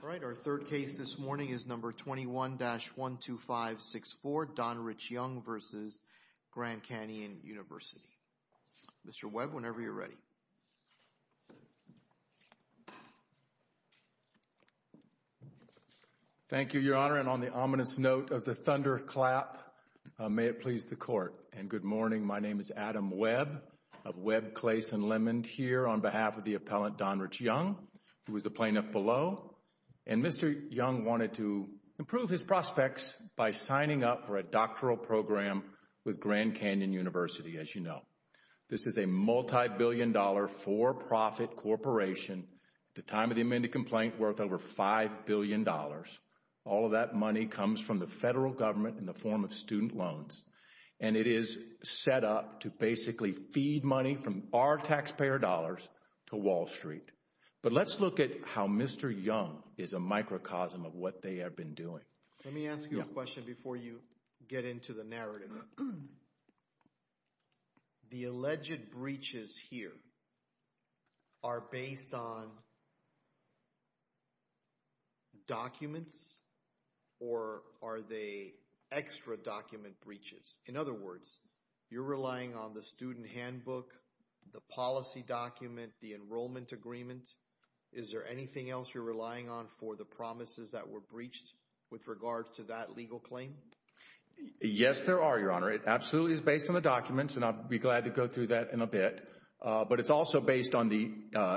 All right, our third case this morning is number 21-12564, Donrich Young v. Grand Canyon University. Mr. Webb, whenever you're ready. Thank you, Your Honor, and on the ominous note of the thunderclap, may it please the Court. And good morning, my name is Adam Webb of Webb, Claes, and Lemon here on behalf of the appellant Donrich Young, who is the plaintiff below. And Mr. Young wanted to improve his as you know. This is a multi-billion dollar for-profit corporation at the time of the amended complaint worth over five billion dollars. All of that money comes from the federal government in the form of student loans, and it is set up to basically feed money from our taxpayer dollars to Wall Street. But let's look at how Mr. Young is a microcosm of what they have been doing. Let me ask you a question. The alleged breaches here are based on documents, or are they extra document breaches? In other words, you're relying on the student handbook, the policy document, the enrollment agreement. Is there anything else you're relying on for the promises that were breached with regards to that legal claim? Yes, there are, Your Honor. It absolutely is based on the documents, and I'll be glad to go through that in a bit. But it's also based on the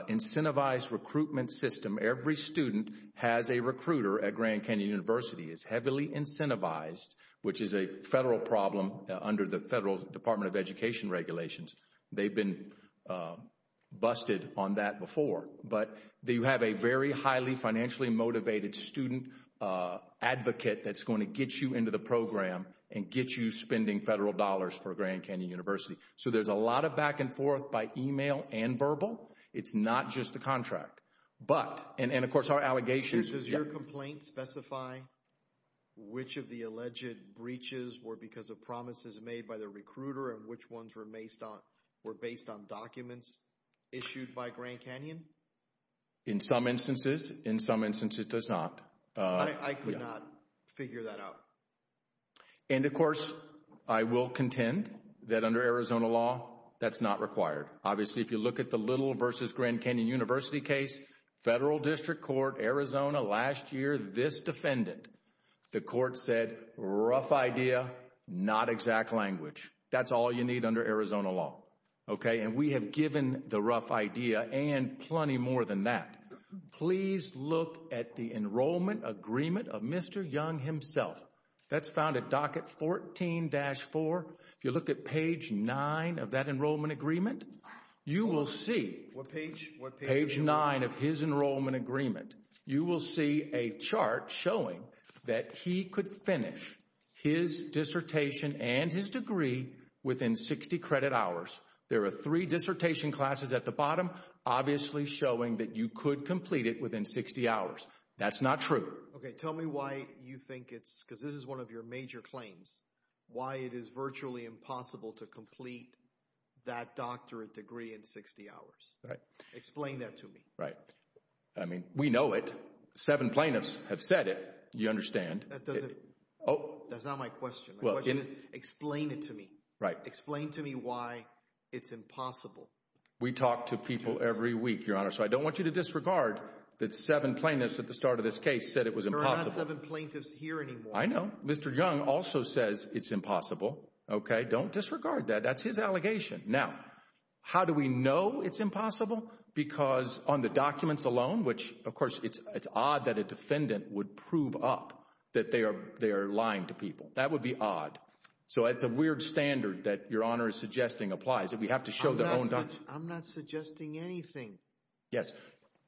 incentivized recruitment system. Every student has a recruiter at Grand Canyon University. It's heavily incentivized, which is a federal problem under the federal Department of Education regulations. They've been busted on that before. But you have a very highly financially motivated student advocate that's going to get you into the program and get you spending federal dollars for Grand Canyon University. So there's a lot of back and forth by email and verbal. It's not just the contract. But, and of course our allegations... Does your complaint specify which of the alleged breaches were because of promises made by the recruiter, and which ones were based on documents issued by Grand Canyon University? And of course, I will contend that under Arizona law, that's not required. Obviously, if you look at the Little v. Grand Canyon University case, Federal District Court, Arizona, last year, this defendant, the court said, rough idea, not exact language. That's all you need under Arizona law. Okay? And we have given the rough idea and plenty more than that. Please look at the enrollment agreement of Mr. Young himself. That's found at docket 14-4. If you look at page 9 of that enrollment agreement, you will see... What page? What page? Page 9 of his enrollment agreement. You will see a chart showing that he could finish his dissertation and his degree within 60 credit hours. There are three dissertation classes at the bottom, obviously showing that you could complete it within 60 hours. That's not true. Okay. Tell me why you think it's... Because this is one of your major claims. Why it is virtually impossible to complete that doctorate degree in 60 hours. Right. Explain that to me. Right. I mean, we know it. Seven plaintiffs have said it. You understand. That doesn't... That's not my question. My question is, explain it to me. Right. Explain to me why it's impossible. We talk to people every week, Your Honor. So I don't want you to disregard that seven plaintiffs at the start of this case said it was impossible. There are not seven plaintiffs here anymore. I know. Mr. Young also says it's impossible. Okay. Don't disregard that. That's his allegation. Now, how do we know it's impossible? Because on the documents alone, which, of course, it's odd that a defendant would prove up that they are lying to people. That would be odd. So it's a weird standard that Your Honor is suggesting applies. That we have to show the... I'm not suggesting anything. Yes.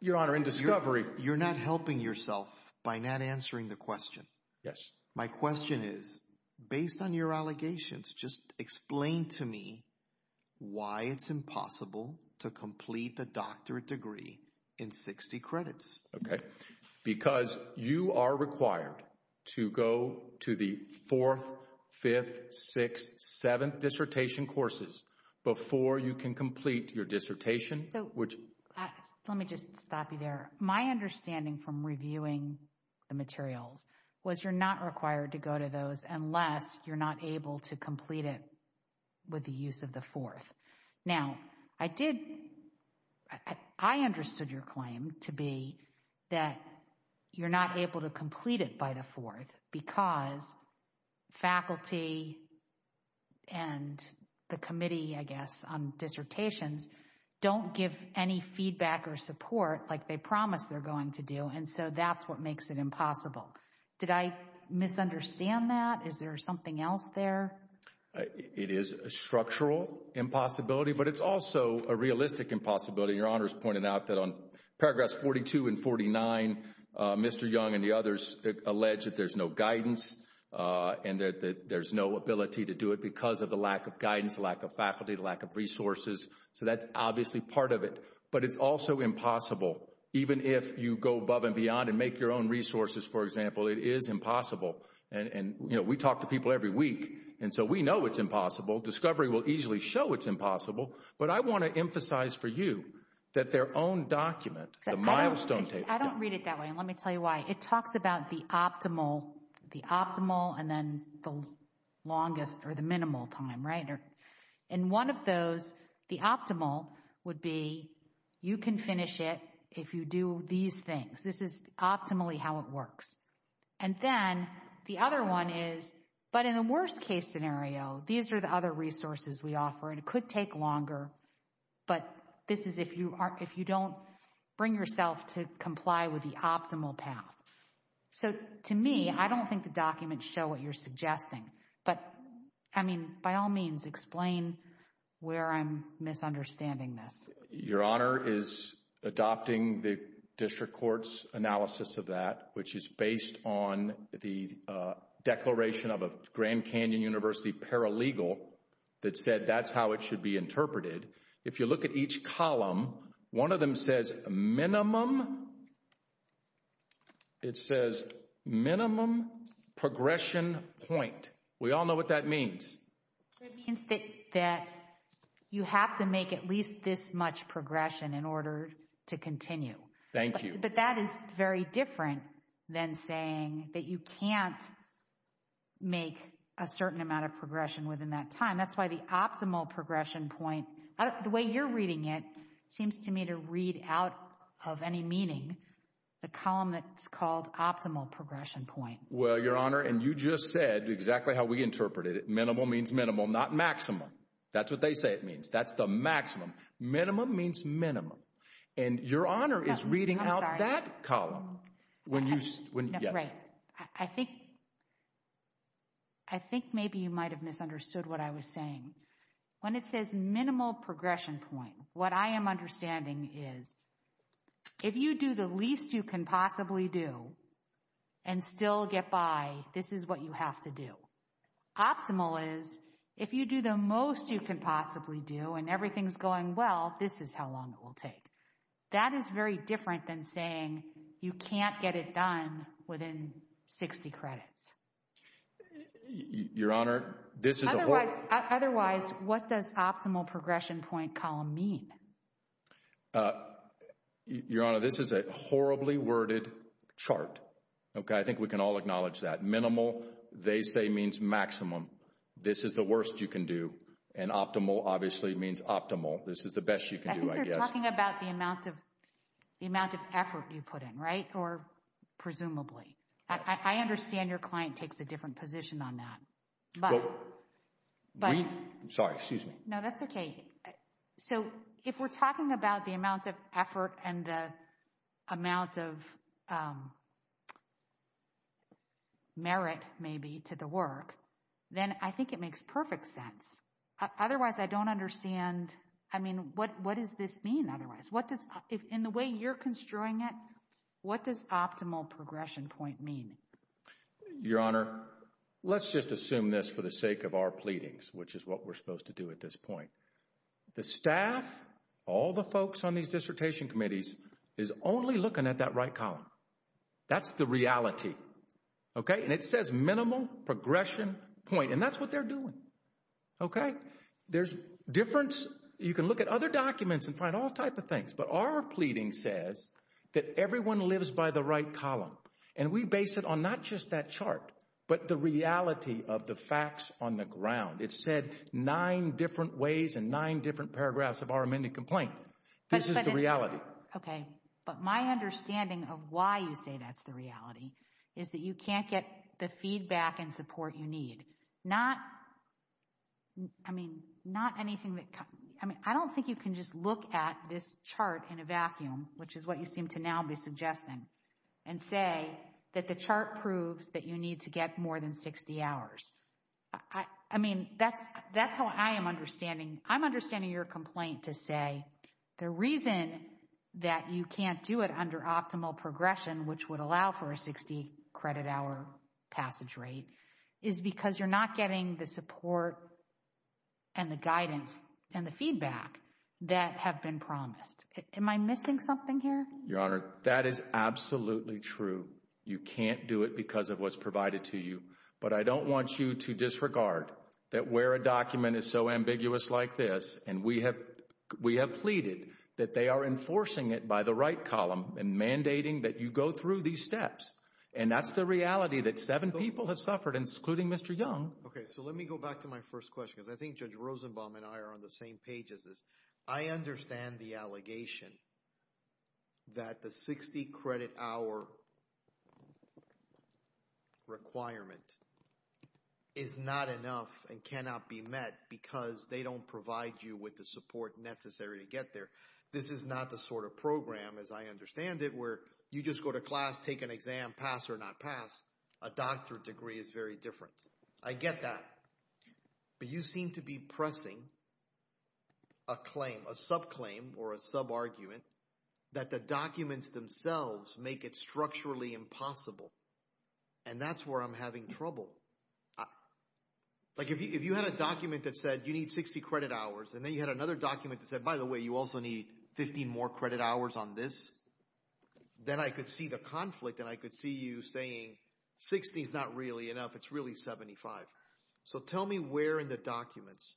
Your Honor, in discovery... You're not helping yourself by not answering the question. Yes. My question is, based on your allegations, just explain to me why it's impossible to complete the doctorate degree in 60 credits. Okay. Because you are required to go to the fourth, fifth, sixth, seventh dissertation courses before you can complete your dissertation, which... Let me just stop you there. My understanding from reviewing the materials was you're not required to go to those unless you're not able to complete it with the use of the fourth. Now, I did... I understood your claim to be that you're not able to complete it by the fourth because faculty and the committee, I guess, on dissertations don't give any feedback or support like they promised they're going to do, and so that's what makes it impossible. Did I misunderstand that? Is there something else there? It is a structural impossibility, but it's also a realistic impossibility. Your Honor's pointed out that on paragraphs 42 and 49, Mr. Young and the others allege that there's no guidance and that there's no ability to do it because of the lack of guidance, lack of faculty, lack of resources. So that's obviously part of it, but it's also impossible. Even if you go above and beyond and make your own resources, for example, it is impossible. And, you know, we talk to people every week, and so we know it's impossible. Discovery will easily show it's impossible, but I want to emphasize for you that their own document, the milestone... I don't read it that way, and let me tell you why. It talks about the optimal, the optimal, and then the longest or the minimal time, right? And one of those, the optimal, would be you can finish it if you do these things. This is optimally how it works. And then the other one is, but in the worst case scenario, these are the other resources we offer, and it could take longer, but this is if you aren't, if you don't bring yourself to comply with the optimal path. So to me, I don't think the documents show what you're suggesting, but I mean, by all means, explain where I'm misunderstanding this. Your Honor is adopting the District Court's analysis of that, which is based on the declaration of a Grand Canyon University paralegal that said that's how it should be interpreted. If you look at each column, one of them says minimum, it says minimum progression point. We all know what that means. It means that you have to make at least this much progression in order to continue. Thank you. But that is very different than saying that you can't make a certain amount of progression within that time. That's why the optimal progression point, the way you're reading it, seems to me to read out of any meaning the column that's called optimal progression point. Well, Your Honor, and you just said exactly how we interpreted it. Minimal means minimum, not maximum. That's what they say it means. That's the maximum. Minimum means minimum. And Your Honor is reading out that column. I think maybe you might have misunderstood what I was saying. When it says minimal progression point, what I am understanding is if you do the least you can possibly do and still get by, this is what you have to do. Optimal is if you do the most you can possibly do and everything's going well, this is how long it will take. That is very different than saying you can't get it done within 60 credits. Your Honor, this is a... Otherwise, what does optimal progression point column mean? Your Honor, this is a horribly worded chart. Okay, I think we can all acknowledge that. Minimal, they say, means maximum. This is the worst you can do. And optimal obviously means optimal. This is the best you can do, I guess. I think it's the amount of effort you put in, right? Or presumably. I understand your client takes a different position on that. Sorry, excuse me. No, that's okay. So, if we're talking about the amount of effort and the amount of merit, maybe, to the work, then I think it makes perfect sense. Otherwise, I don't understand. I mean, what does this mean otherwise? In the way you're construing it, what does optimal progression point mean? Your Honor, let's just assume this for the sake of our pleadings, which is what we're supposed to do at this point. The staff, all the folks on these dissertation committees, is only looking at that right column. That's the reality. Okay? And it says minimal progression point, and that's what they're doing. Okay? There's difference. You can look at other documents and find all types of things. But our pleading says that everyone lives by the right column. And we base it on not just that chart, but the reality of the facts on the ground. It said nine different ways and nine different paragraphs of our amended complaint. This is the reality. Okay. But my understanding of why you say that's the reality is that you can't get the feedback and support you need. Not, I mean, not anything that, I mean, I don't think you can just look at this chart in a vacuum, which is what you seem to now be suggesting, and say that the chart proves that you need to get more than 60 hours. I mean, that's how I am understanding, I'm understanding your complaint to say the reason that you can't do it under optimal progression, which would allow for a 60 credit hour passage rate, is because you're not getting the support and the guidance and the feedback that have been promised. Am I missing something here? Your Honor, that is absolutely true. You can't do it because of what's provided to you. But I don't want you to disregard that where a document is so ambiguous like this, and we have pleaded that they are enforcing it by the right column and mandating that you go through these steps. And that's the reality that seven people have suffered, including Mr. Young. Okay, so let me go back to my first question, because I think Judge Rosenbaum and I are on the same page as this. I understand the allegation that the 60 credit hour requirement is not enough and cannot be met because they don't provide you with the support necessary to get there. This is not the sort of program, as I understand it, where you just go to class, take an exam, pass or not pass. A doctorate degree is very different. I get that. But you seem to be pressing a claim, a subclaim or a sub-argument, that the documents themselves make it structurally impossible. And that's where I'm having trouble. If you had a document that said you need 60 credit hours, and then you had another document that said, by the way, you also need 15 more credit hours on this, then I could see the conflict and I could see you saying 60 is not really enough. It's really 75. So tell me where in the documents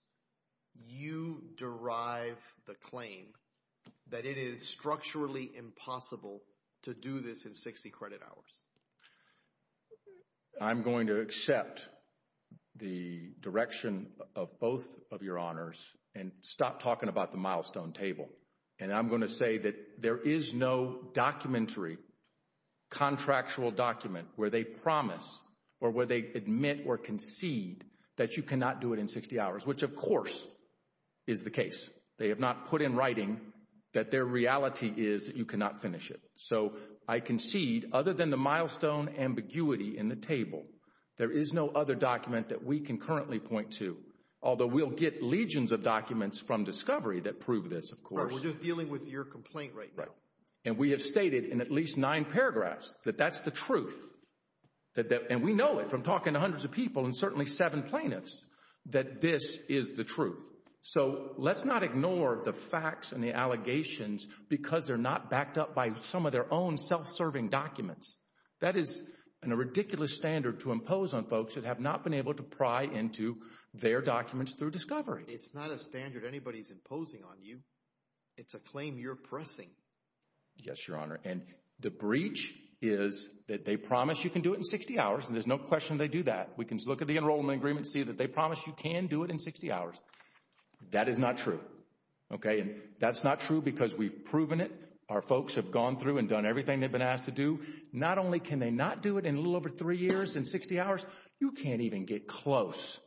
you derive the claim that it is structurally impossible to do this in 60 credit hours. I'm going to accept the direction of both of your honors and stop talking about the milestone table. And I'm going to say that there is no documentary contractual document where they promise or where they admit or concede that you cannot do it in 60 hours, which of course is the case. They have not put in writing that their reality is that you cannot finish it. So I concede, other than the milestone ambiguity in the table, there is no other document that we can currently point to, although we'll get legions of documents from Discovery that prove this, of course. We're just dealing with your complaint right now. And we have stated in at least nine paragraphs that that's the truth. And we know it from talking to hundreds of people and certainly seven plaintiffs, that this is the truth. So let's not ignore the facts and the allegations because they're not backed up by some of their own self-serving documents. That is a ridiculous standard to impose on folks that have not been able to pry into their documents through Discovery. It's not a standard anybody's imposing on you. It's a claim you're pressing. Yes, Your Honor. And the breach is that they promise you can do it in 60 hours and there's no question they do that. We can look at the enrollment agreement and see that they promise you can do it in 60 hours. That is not true. Okay. And that's not true because we've proven it. Our folks have gone through and done everything they've been asked to do. Not only can they not do it in a little over three years and 60 hours, you can't even get close.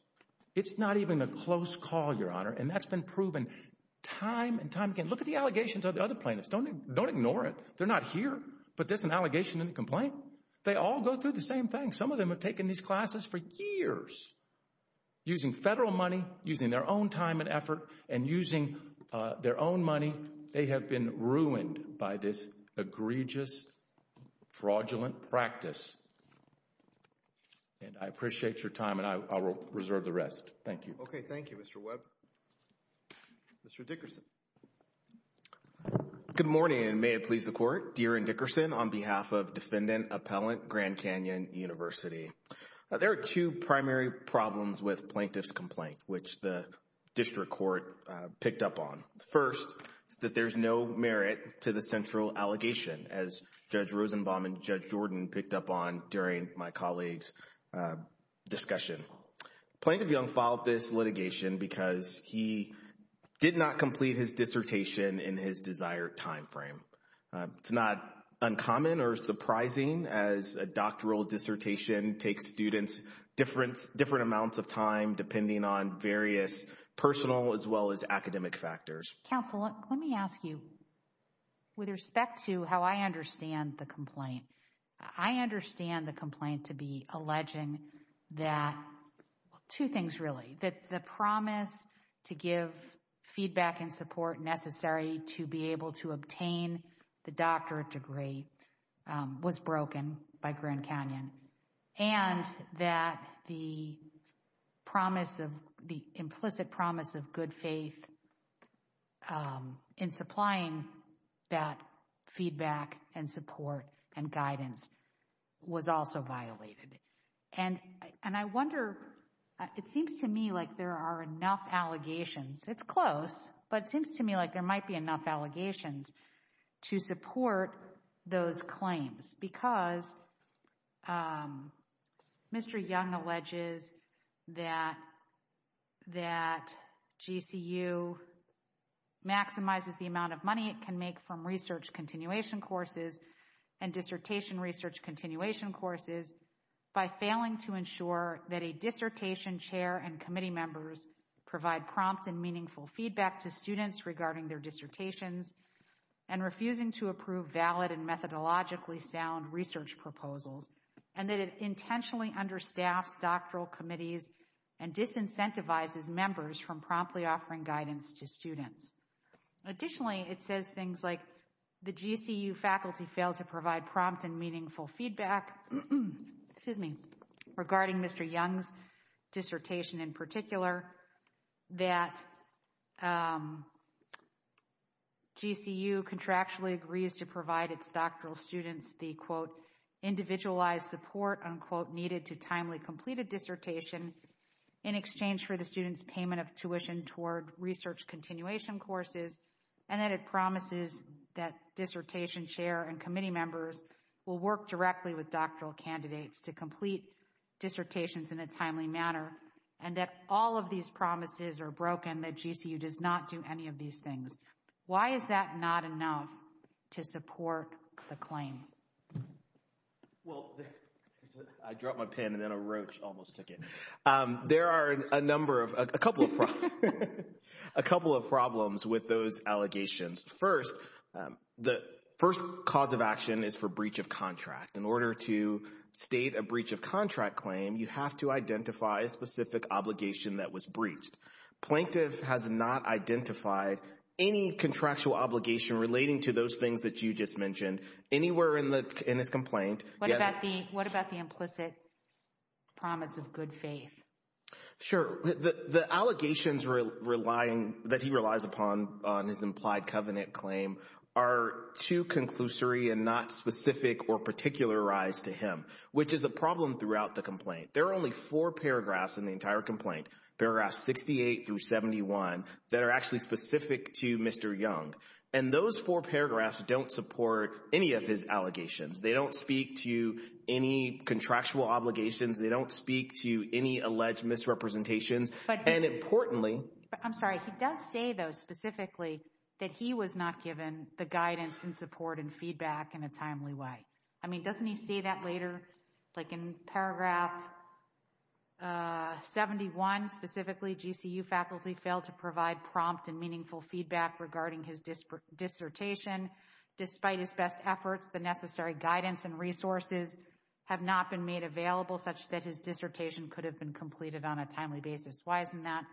It's not even a close call, Your Honor. And that's been proven time and time again. Look at the allegations of the other plaintiffs. Don't ignore it. They're not here. But that's an allegation and a complaint. They all go through the same thing. Some of them have taken these classes for years using federal money, using their own time and effort, and using their own money. They have been ruined by this egregious, fraudulent practice. And I appreciate your time, and I will reserve the rest. Thank you. Okay. Thank you, Mr. Webb. Mr. Dickerson. Good morning, and may it please the Court. Deren Dickerson on behalf of Defendant Appellant Grand Canyon University. There are two primary problems with Plaintiff's Complaint which the District Court picked up on. First, that there's no merit to the central allegation as Judge Rosenbaum and Judge Jordan picked up on during my colleague's discussion. Plaintiff Young filed this litigation because he did not complete his dissertation in his desired time frame. It's not uncommon or surprising as a doctoral dissertation takes students different amounts of time depending on various personal as well as academic factors. Counsel, let me ask you, with respect to how I understand the complaint, I understand the complaint to be alleging that, two things really, that the promise to give feedback and support necessary to be able to obtain the doctorate degree was broken by Grand Canyon, and that the implicit promise of good faith in supplying that feedback and support and guidance was also violated. And I wonder, it seems to me like there are enough allegations, it's close, but it seems to me like there might be enough allegations to support those claims because Mr. Young alleges that GCU maximizes the amount of money it can make from research continuation courses and dissertation research continuation courses by failing to ensure that a dissertation chair and committee members provide prompt and meaningful feedback to students regarding their dissertations and refusing to approve valid and methodologically sound research proposals, and that it intentionally understaffs doctoral committees and disincentivizes members from promptly offering guidance to students. Additionally, it says things like the GCU faculty failed to provide prompt and meaningful feedback, excuse me, regarding Mr. Young's dissertation in particular, that GCU contractually agrees to provide its doctoral students the quote, individualized support, unquote, needed to timely complete a dissertation in exchange for the student's payment of tuition toward research continuation courses, and that it promises that dissertation chair and committee members will work directly with doctoral candidates to complete dissertations in a timely manner, and that all of these promises are broken, and that GCU does not do any of these things. Why is that not enough to support the claim? Well, I dropped my pen and then a roach almost took it. There are a number of, a couple of problems with those allegations. First, the first cause of action is for breach of contract. In order to state a breach of contract claim, you have to identify a specific obligation that was breached. Plaintiff has not identified any contractual obligation relating to those things that you just mentioned anywhere in the, in his complaint. What about the, what about the implicit promise of good faith? Sure, the allegations relying, that he relies upon on his implied covenant claim are too conclusory and not specific or particularized to him, which is a problem throughout the complaint. There are only four paragraphs in the entire complaint, paragraphs 68 through 71, that are actually specific to Mr. Young. And those four paragraphs don't support any of his allegations. They don't speak to any contractual obligations. They don't speak to any alleged misrepresentations. But, and importantly, I'm sorry, he does say though specifically that he was not given the guidance and support and feedback in a timely way. I mean, doesn't he say that later, like in paragraph 71 specifically, GCU faculty failed to provide prompt and meaningful feedback regarding his dissertation. Despite his best efforts, the necessary guidance and resources have not been made available such that his dissertation could have been completed on a timely basis. Why isn't that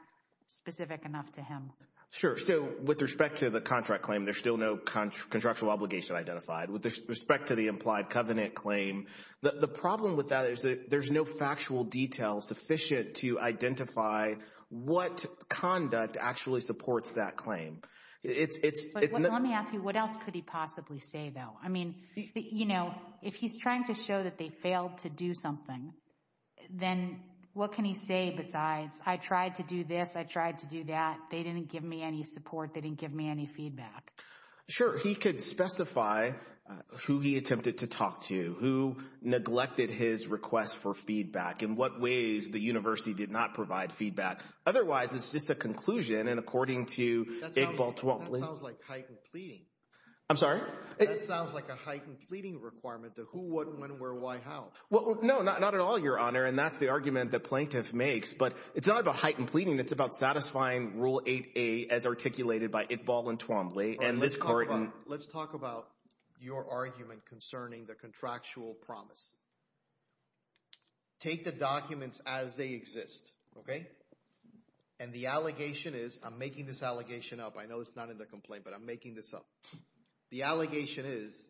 specific enough to him? Sure, so with respect to the contract claim, there's still no contractual obligation identified. With respect to the implied covenant claim, the problem with that is that there's no factual detail sufficient to identify what conduct actually supports that claim. It's... Let me ask you, what else could he possibly say though? I mean, you know, if he's trying to show that they failed to do something, then what can he say besides, I tried to do this, I tried to do that, they didn't give me any support, they didn't give me any feedback. Sure, he could specify who he attempted to talk to, who neglected his request for feedback, in what ways the university did not provide feedback. Otherwise, it's just a conclusion, and according to Iqbal Twombly... That sounds like heightened pleading. I'm sorry? That sounds like a heightened pleading requirement to who, what, when, where, why, how. Well, no, not at all, Your Honor, and that's the argument the plaintiff makes, but it's not about heightened pleading, it's about satisfying Rule 8A as articulated by Iqbal and Twombly, and this court... Let's talk about your argument concerning the contractual promise. Take the documents as they exist, okay? And the allegation is, I'm making this allegation up, I know it's not in the complaint, but I'm making this up. The allegation is,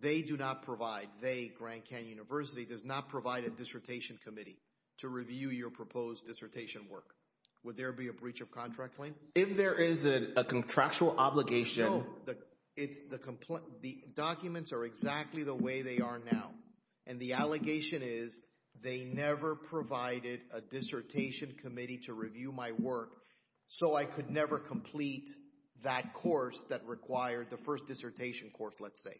they do not provide, they, Grand Canyon University, does not provide a dissertation committee to review your proposed dissertation work. Would there be a breach of contract claim? If there is a contractual obligation... No, it's the... The documents are exactly the way they are now, and the allegation is, they never provided a dissertation committee to review my work, so I could never complete that course that required the first dissertation course, let's say.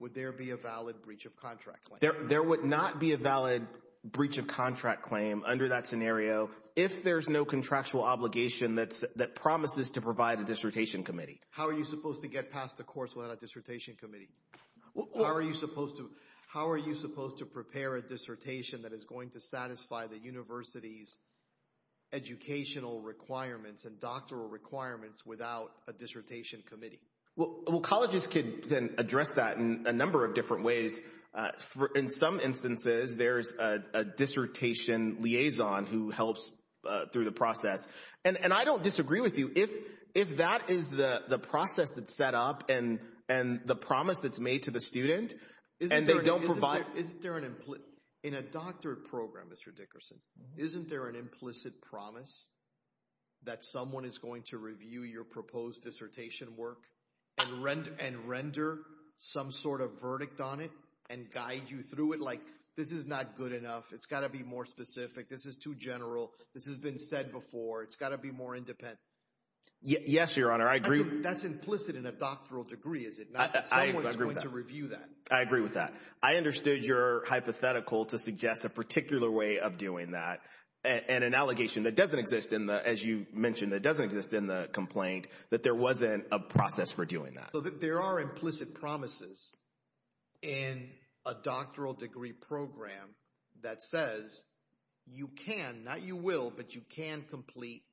Would there be a valid breach of contract claim? There would not be a valid breach of contract claim under that scenario if there's no contractual obligation that promises to provide a dissertation committee. How are you supposed to get past a course without a dissertation committee? How are you supposed to... How are you supposed to prepare a dissertation that is going to satisfy the university's educational requirements and doctoral requirements without a dissertation committee? Well, colleges can then address that in a number of different ways. In some instances, there's a dissertation liaison who helps through the process, and I don't disagree with you. If that is the process that's set up and the promise that's made to the student, and they don't provide... In a doctorate program, Mr. Dickerson, isn't there an implicit promise that someone is going to review your proposed dissertation work and render some sort of verdict on it and guide you through it? Like, this is not good enough. It's got to be more specific. This is too general. This has been said before. It's got to be more independent. Yes, Your Honor. It's implicit in a doctoral degree, is it not? I agree with that. Someone's going to review that. I agree with that. I understood your hypothetical to suggest a particular way of doing that and an allegation that doesn't exist in the... As you mentioned, it doesn't exist in the complaint that there wasn't a process for doing that. There are implicit promises in a doctoral degree program that says you can, not you will, but you can complete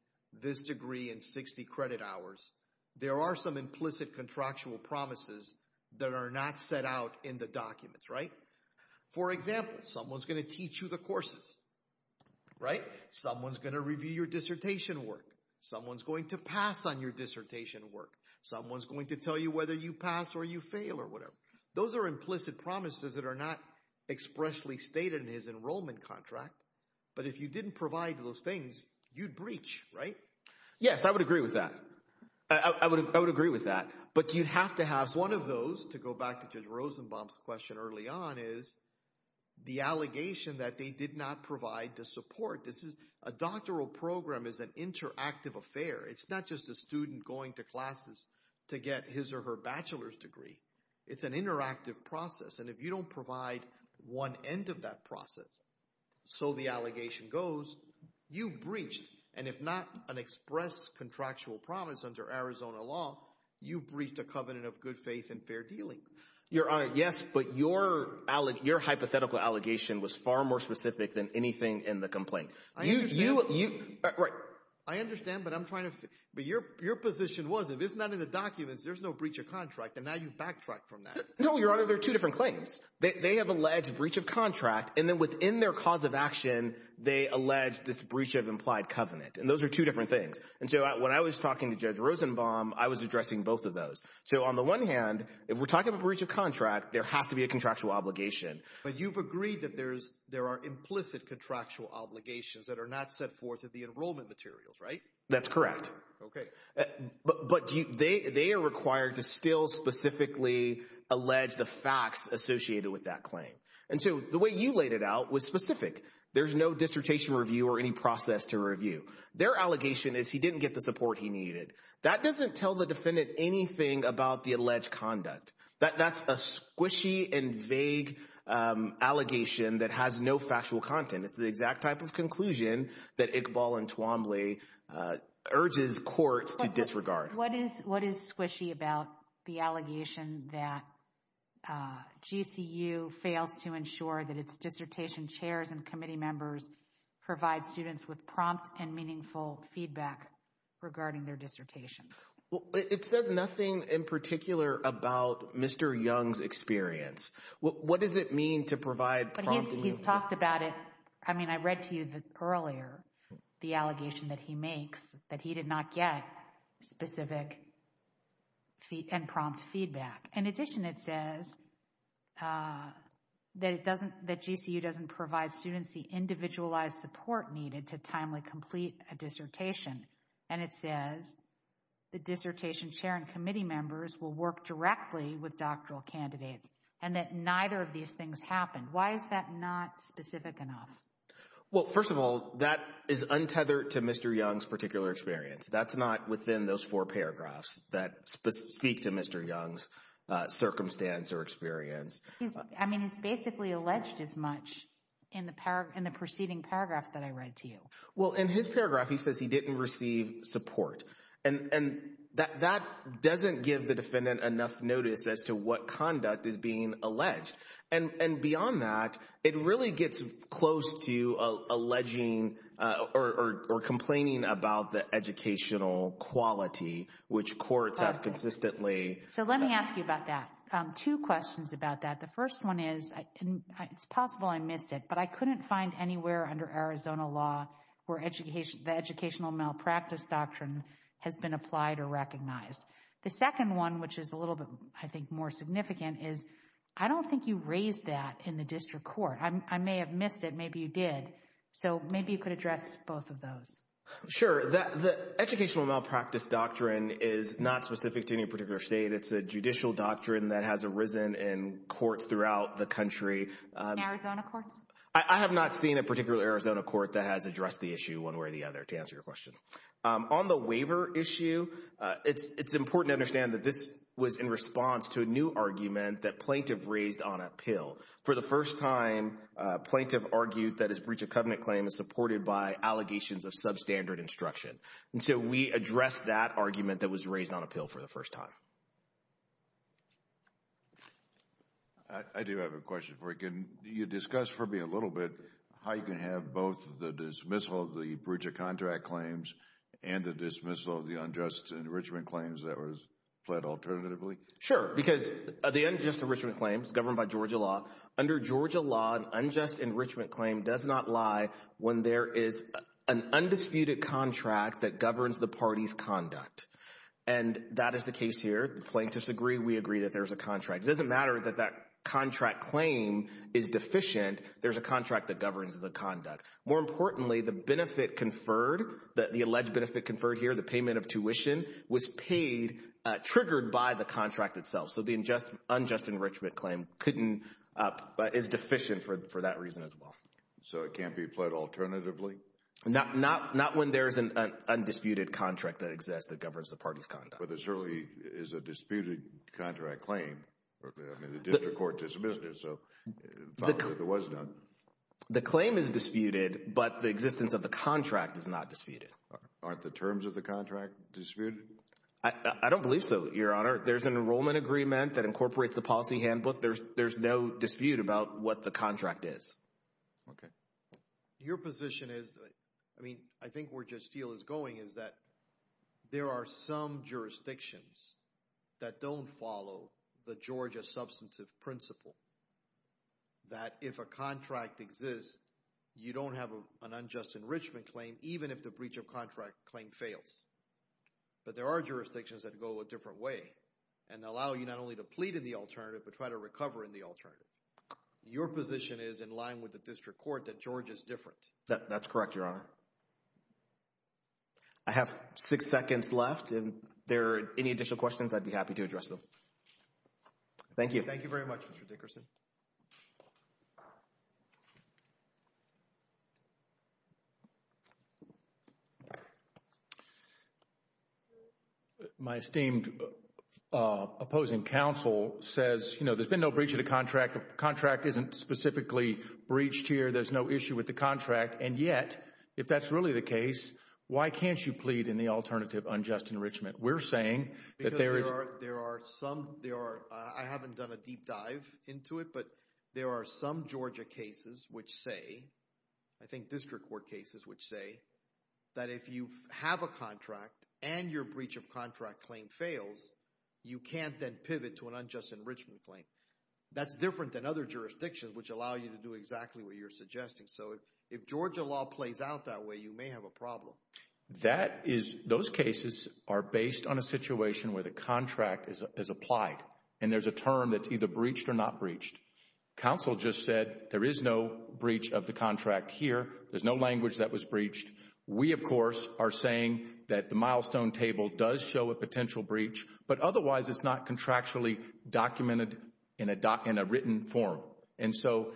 this degree in 60 credit hours. There are some implicit contractual promises that are not set out in the documents, right? For example, someone's going to teach you the courses. Someone's going to review your dissertation work. Someone's going to pass on your dissertation work. Someone's going to tell you whether you pass or you fail or whatever. Those are implicit promises that are not expressly stated in his enrollment contract, but if you didn't provide those things, you'd breach, right? Yes, I would agree with that. I would agree with that, but you'd have to have... One of those, to go back to Judge Rosenbaum's question early on, is the allegation that they did not provide the support. A doctoral program is an interactive affair. It's not just a student going to classes to get his or her bachelor's degree. It's an interactive process, and if you don't provide one end of that process, so the allegation goes, you've breached, and if not an express contractual promise under Arizona law, you've breached a covenant of good faith and fair dealing. Your Honor, yes, but your hypothetical allegation was far more specific than anything in the complaint. I understand, but I'm trying to... But your position was, if it's not in the documents, there's no breach of contract, and now you've backtracked from that. No, Your Honor, they're alleged breach of contract, and then within their cause of action, they allege this breach of implied covenant, and those are two different things. When I was talking to Judge Rosenbaum, I was addressing both of those. On the one hand, if we're talking about breach of contract, there has to be a contractual obligation. But you've agreed that there are implicit contractual obligations that are not set forth in the enrollment materials, right? That's correct. Okay. But they are required to still specifically allege the facts associated with that claim. And so the way you laid it out was specific. There's no dissertation review or any process to review. Their allegation is he didn't get the support he needed. That doesn't tell the defendant anything about the alleged conduct. That's a squishy and vague allegation that has no factual content. It's the exact type of conclusion that Iqbal and Twombly urges courts to disregard. What is squishy about the allegation that GCU fails to ensure that its dissertation chairs and committee members provide students with prompt and meaningful feedback regarding their dissertations? Well, it says nothing in particular about Mr. Young's experience. What does it mean to provide prompt? He's talked about it. I mean, I read to you earlier the allegation that he makes that he did not get specific and prompt feedback. In addition, it says that GCU doesn't provide students the individualized support needed to timely complete a dissertation. And it says the dissertation chair and committee members will work directly with doctoral candidates and that neither of these things happened. Why is that not specific enough? Well, first of all, that is untethered to Mr. Young's particular experience. That's not within those four paragraphs that speak to Mr. Young's circumstance or experience. I mean, he's basically alleged as much in the proceeding paragraph that I read to you. Well, in his paragraph, he says he didn't receive support. And that doesn't give the defendant enough notice as to what conduct is being alleged. And beyond that, it really gets close to alleging or complaining about the educational quality, which courts have consistently. So let me ask you about that. Two questions about that. The first one is, it's possible I missed it, but I couldn't find anywhere under Arizona law where the educational malpractice doctrine has been applied or recognized. The second one, which is a little bit, I think, more significant, is I don't think you raised that in the district court. I may have missed it. Maybe you did. So maybe you could address both of those. Sure. The educational malpractice doctrine is not specific to any particular state. It's a judicial doctrine that has arisen in courts throughout the country. In Arizona courts? I have not seen a particular Arizona court that has addressed the issue one way or the other, to answer your question. On the waiver issue, it's important to understand that this was in response to a new argument that plaintiff raised on appeal. For the first time, a plaintiff argued that his breach of covenant claim is supported by allegations of substandard instruction. And so we addressed that argument that was raised on appeal for the first time. I do have a question for you. Can you discuss for us the dismissal of the breach of contract claims and the dismissal of the unjust enrichment claims that were fled alternatively? Sure. Because the unjust enrichment claims governed by Georgia law, under Georgia law, an unjust enrichment claim does not lie when there is an undisputed contract that governs the party's conduct. And that is the case here. The plaintiffs agree. We agree that there's a contract. It doesn't matter that that contract claim is More importantly, the benefit conferred, the alleged benefit conferred here, the payment of tuition, was paid, triggered by the contract itself. So the unjust enrichment claim couldn't, is deficient for that reason as well. So it can't be pled alternatively? Not when there's an undisputed contract that exists that governs the party's conduct. But there certainly is a disputed contract claim. I mean, the district court dismissed it. So it was done. The claim is disputed, but the existence of the contract is not disputed. Aren't the terms of the contract disputed? I don't believe so, Your Honor. There's an enrollment agreement that incorporates the policy handbook. There's no dispute about what the contract is. Okay. Your position is, I mean, I think where Judge Steele is going is that there are some jurisdictions that don't follow the Georgia substantive principle. That if a contract exists, you don't have an unjust enrichment claim, even if the breach of contract claim fails. But there are jurisdictions that go a different way and allow you not only to plead in the alternative, but try to recover in the alternative. Your position is in line with the district court that Georgia is different. That's correct, Your Honor. I have six seconds left. If there are any additional questions, I'd be happy to address them. Thank you. Thank you very much, Mr. Dickerson. My esteemed opposing counsel says, you know, there's been no breach of the contract. The contract isn't specifically breached here. There's no issue with the contract. And yet, if that's really the case, why can't you plead in the alternative unjust enrichment? We're saying that there is... Because there are some... I haven't done a deep dive into it, but there are some Georgia cases which say, I think district court cases which say, that if you have a contract and your breach of contract claim fails, you can't then pivot to an unjust enrichment claim. That's different than other jurisdictions which allow you to do exactly what you're suggesting. So, if Georgia law plays out that way, you may have a problem. That is... Those cases are based on a situation where the contract is applied. And there's a term that's either breached or not breached. Counsel just said, there is no breach of the contract here. There's no language that was breached. We, of course, are saying that the milestone table does show a potential breach, but otherwise it's not contractually documented in a written form. And so,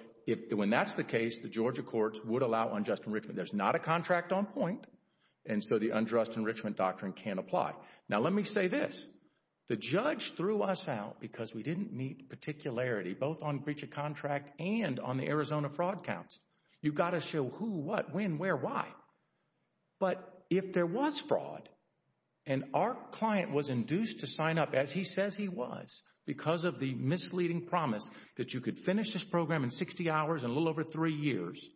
when that's the case, the Georgia courts would allow unjust enrichment. There's not a contract on point, and so the unjust enrichment doctrine can't apply. Now, let me say this. The judge threw us out because we didn't meet particularity, both on breach of contract and on the Arizona fraud counts. You got to show who, what, when, where, why. But if there was fraud, and our client was because of the misleading promise that you could finish this program in 60 hours, a little over three years,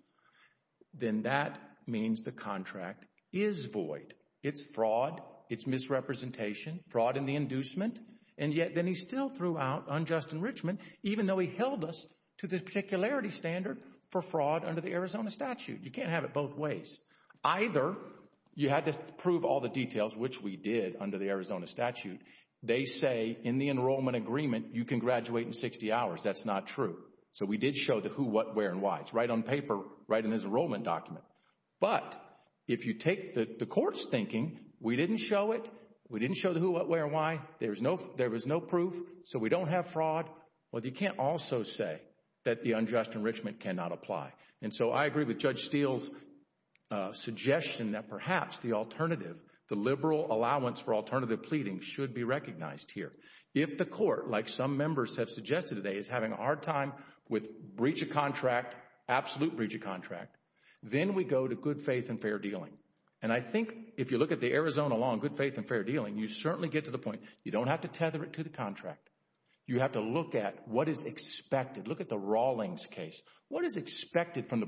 then that means the contract is void. It's fraud. It's misrepresentation. Fraud in the inducement. And yet, then he still threw out unjust enrichment, even though he held us to this particularity standard for fraud under the Arizona statute. You can't have it both ways. Either you had to prove all the details, which we did under the Arizona statute. They say in the enrollment agreement, you can graduate in 60 hours. That's not true. So we did show the who, what, where, and why. It's right on paper, right in his enrollment document. But if you take the court's thinking, we didn't show it. We didn't show the who, what, where, and why. There was no proof. So we don't have fraud. But you can't also say that the unjust enrichment cannot apply. And so, I agree with Judge Steele's suggestion that perhaps the alternative, the liberal allowance for alternative pleading should be recognized here. If the court, like some members have suggested today, is having a hard time with breach of contract, absolute breach of contract, then we go to good faith and fair dealing. And I think if you look at the Arizona law on good faith and fair dealing, you certainly get to the point. You don't have to tether it to the contract. You have to look at what is expected. Look at the Rawlings case. What is expected from the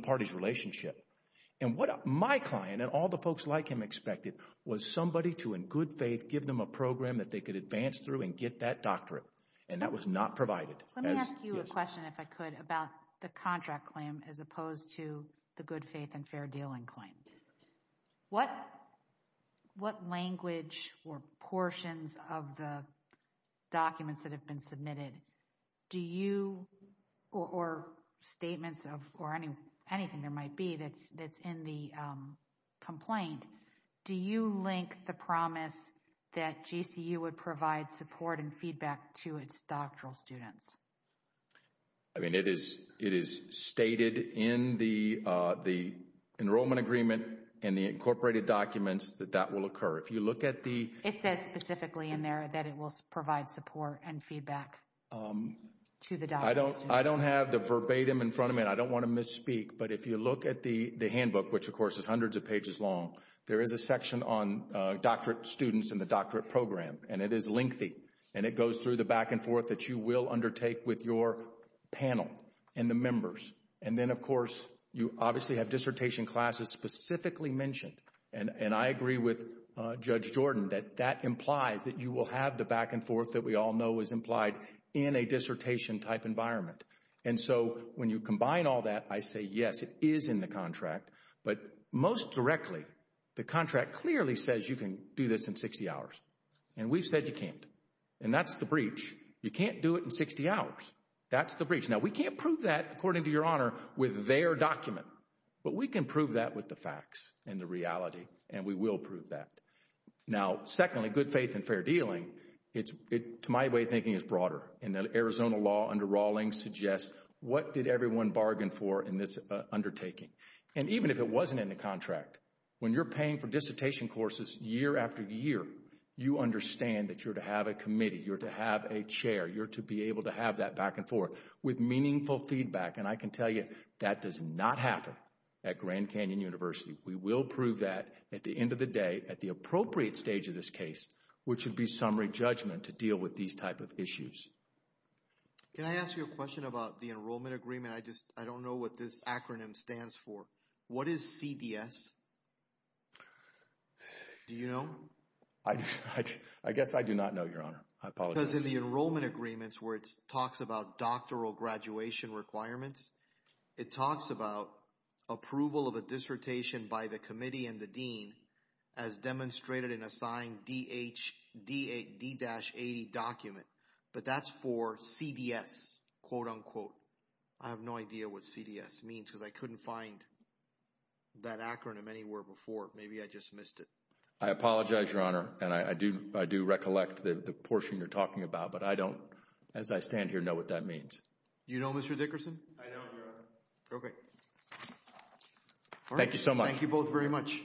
All the folks like him expected was somebody to, in good faith, give them a program that they could advance through and get that doctorate. And that was not provided. Let me ask you a question, if I could, about the contract claim as opposed to the good faith and fair dealing claim. What language or portions of the documents that have been claimed, do you link the promise that GCU would provide support and feedback to its doctoral students? I mean, it is stated in the enrollment agreement and the incorporated documents that that will occur. If you look at the... It says specifically in there that it will provide support and feedback to the doctoral students. I don't have the verbatim in front of me. I don't want to misspeak. But if you look at the handbook, which of course is hundreds of pages long, there is a section on doctorate students and the doctorate program. And it is lengthy. And it goes through the back and forth that you will undertake with your panel and the members. And then, of course, you obviously have dissertation classes specifically mentioned. And I agree with Judge Jordan that that implies that you will have the back and forth that we all know is implied in a dissertation type environment. And so when you combine all that, I say, yes, it is in the contract. But most directly, the contract clearly says you can do this in 60 hours. And we've said you can't. And that's the breach. You can't do it in 60 hours. That's the breach. Now, we can't prove that, according to your honor, with their document. But we can prove that with the facts and the reality. And we will prove that. Now, secondly, good faith and fair dealing, to my way of suggesting, what did everyone bargain for in this undertaking? And even if it wasn't in the contract, when you're paying for dissertation courses year after year, you understand that you're to have a committee, you're to have a chair, you're to be able to have that back and forth with meaningful feedback. And I can tell you that does not happen at Grand Canyon University. We will prove that at the end of the day, at the appropriate stage of this case, which would be summary judgment to deal with these type of issues. Can I ask you a question about the enrollment agreement? I just, I don't know what this acronym stands for. What is CDS? Do you know? I guess I do not know, your honor. I apologize. Because in the enrollment agreements where it talks about doctoral graduation requirements, it talks about approval of a dissertation by the committee and the dean as demonstrated in a signed D-80 document. But that's for CDS, quote unquote. I have no idea what CDS means because I couldn't find that acronym anywhere before. Maybe I just missed it. I apologize, your honor. And I do recollect the portion you're talking about, but I don't, as I stand here, know what that means. You know, Mr. Dickerson? I know, your honor. Okay. Thank you so much. Thank you both very much.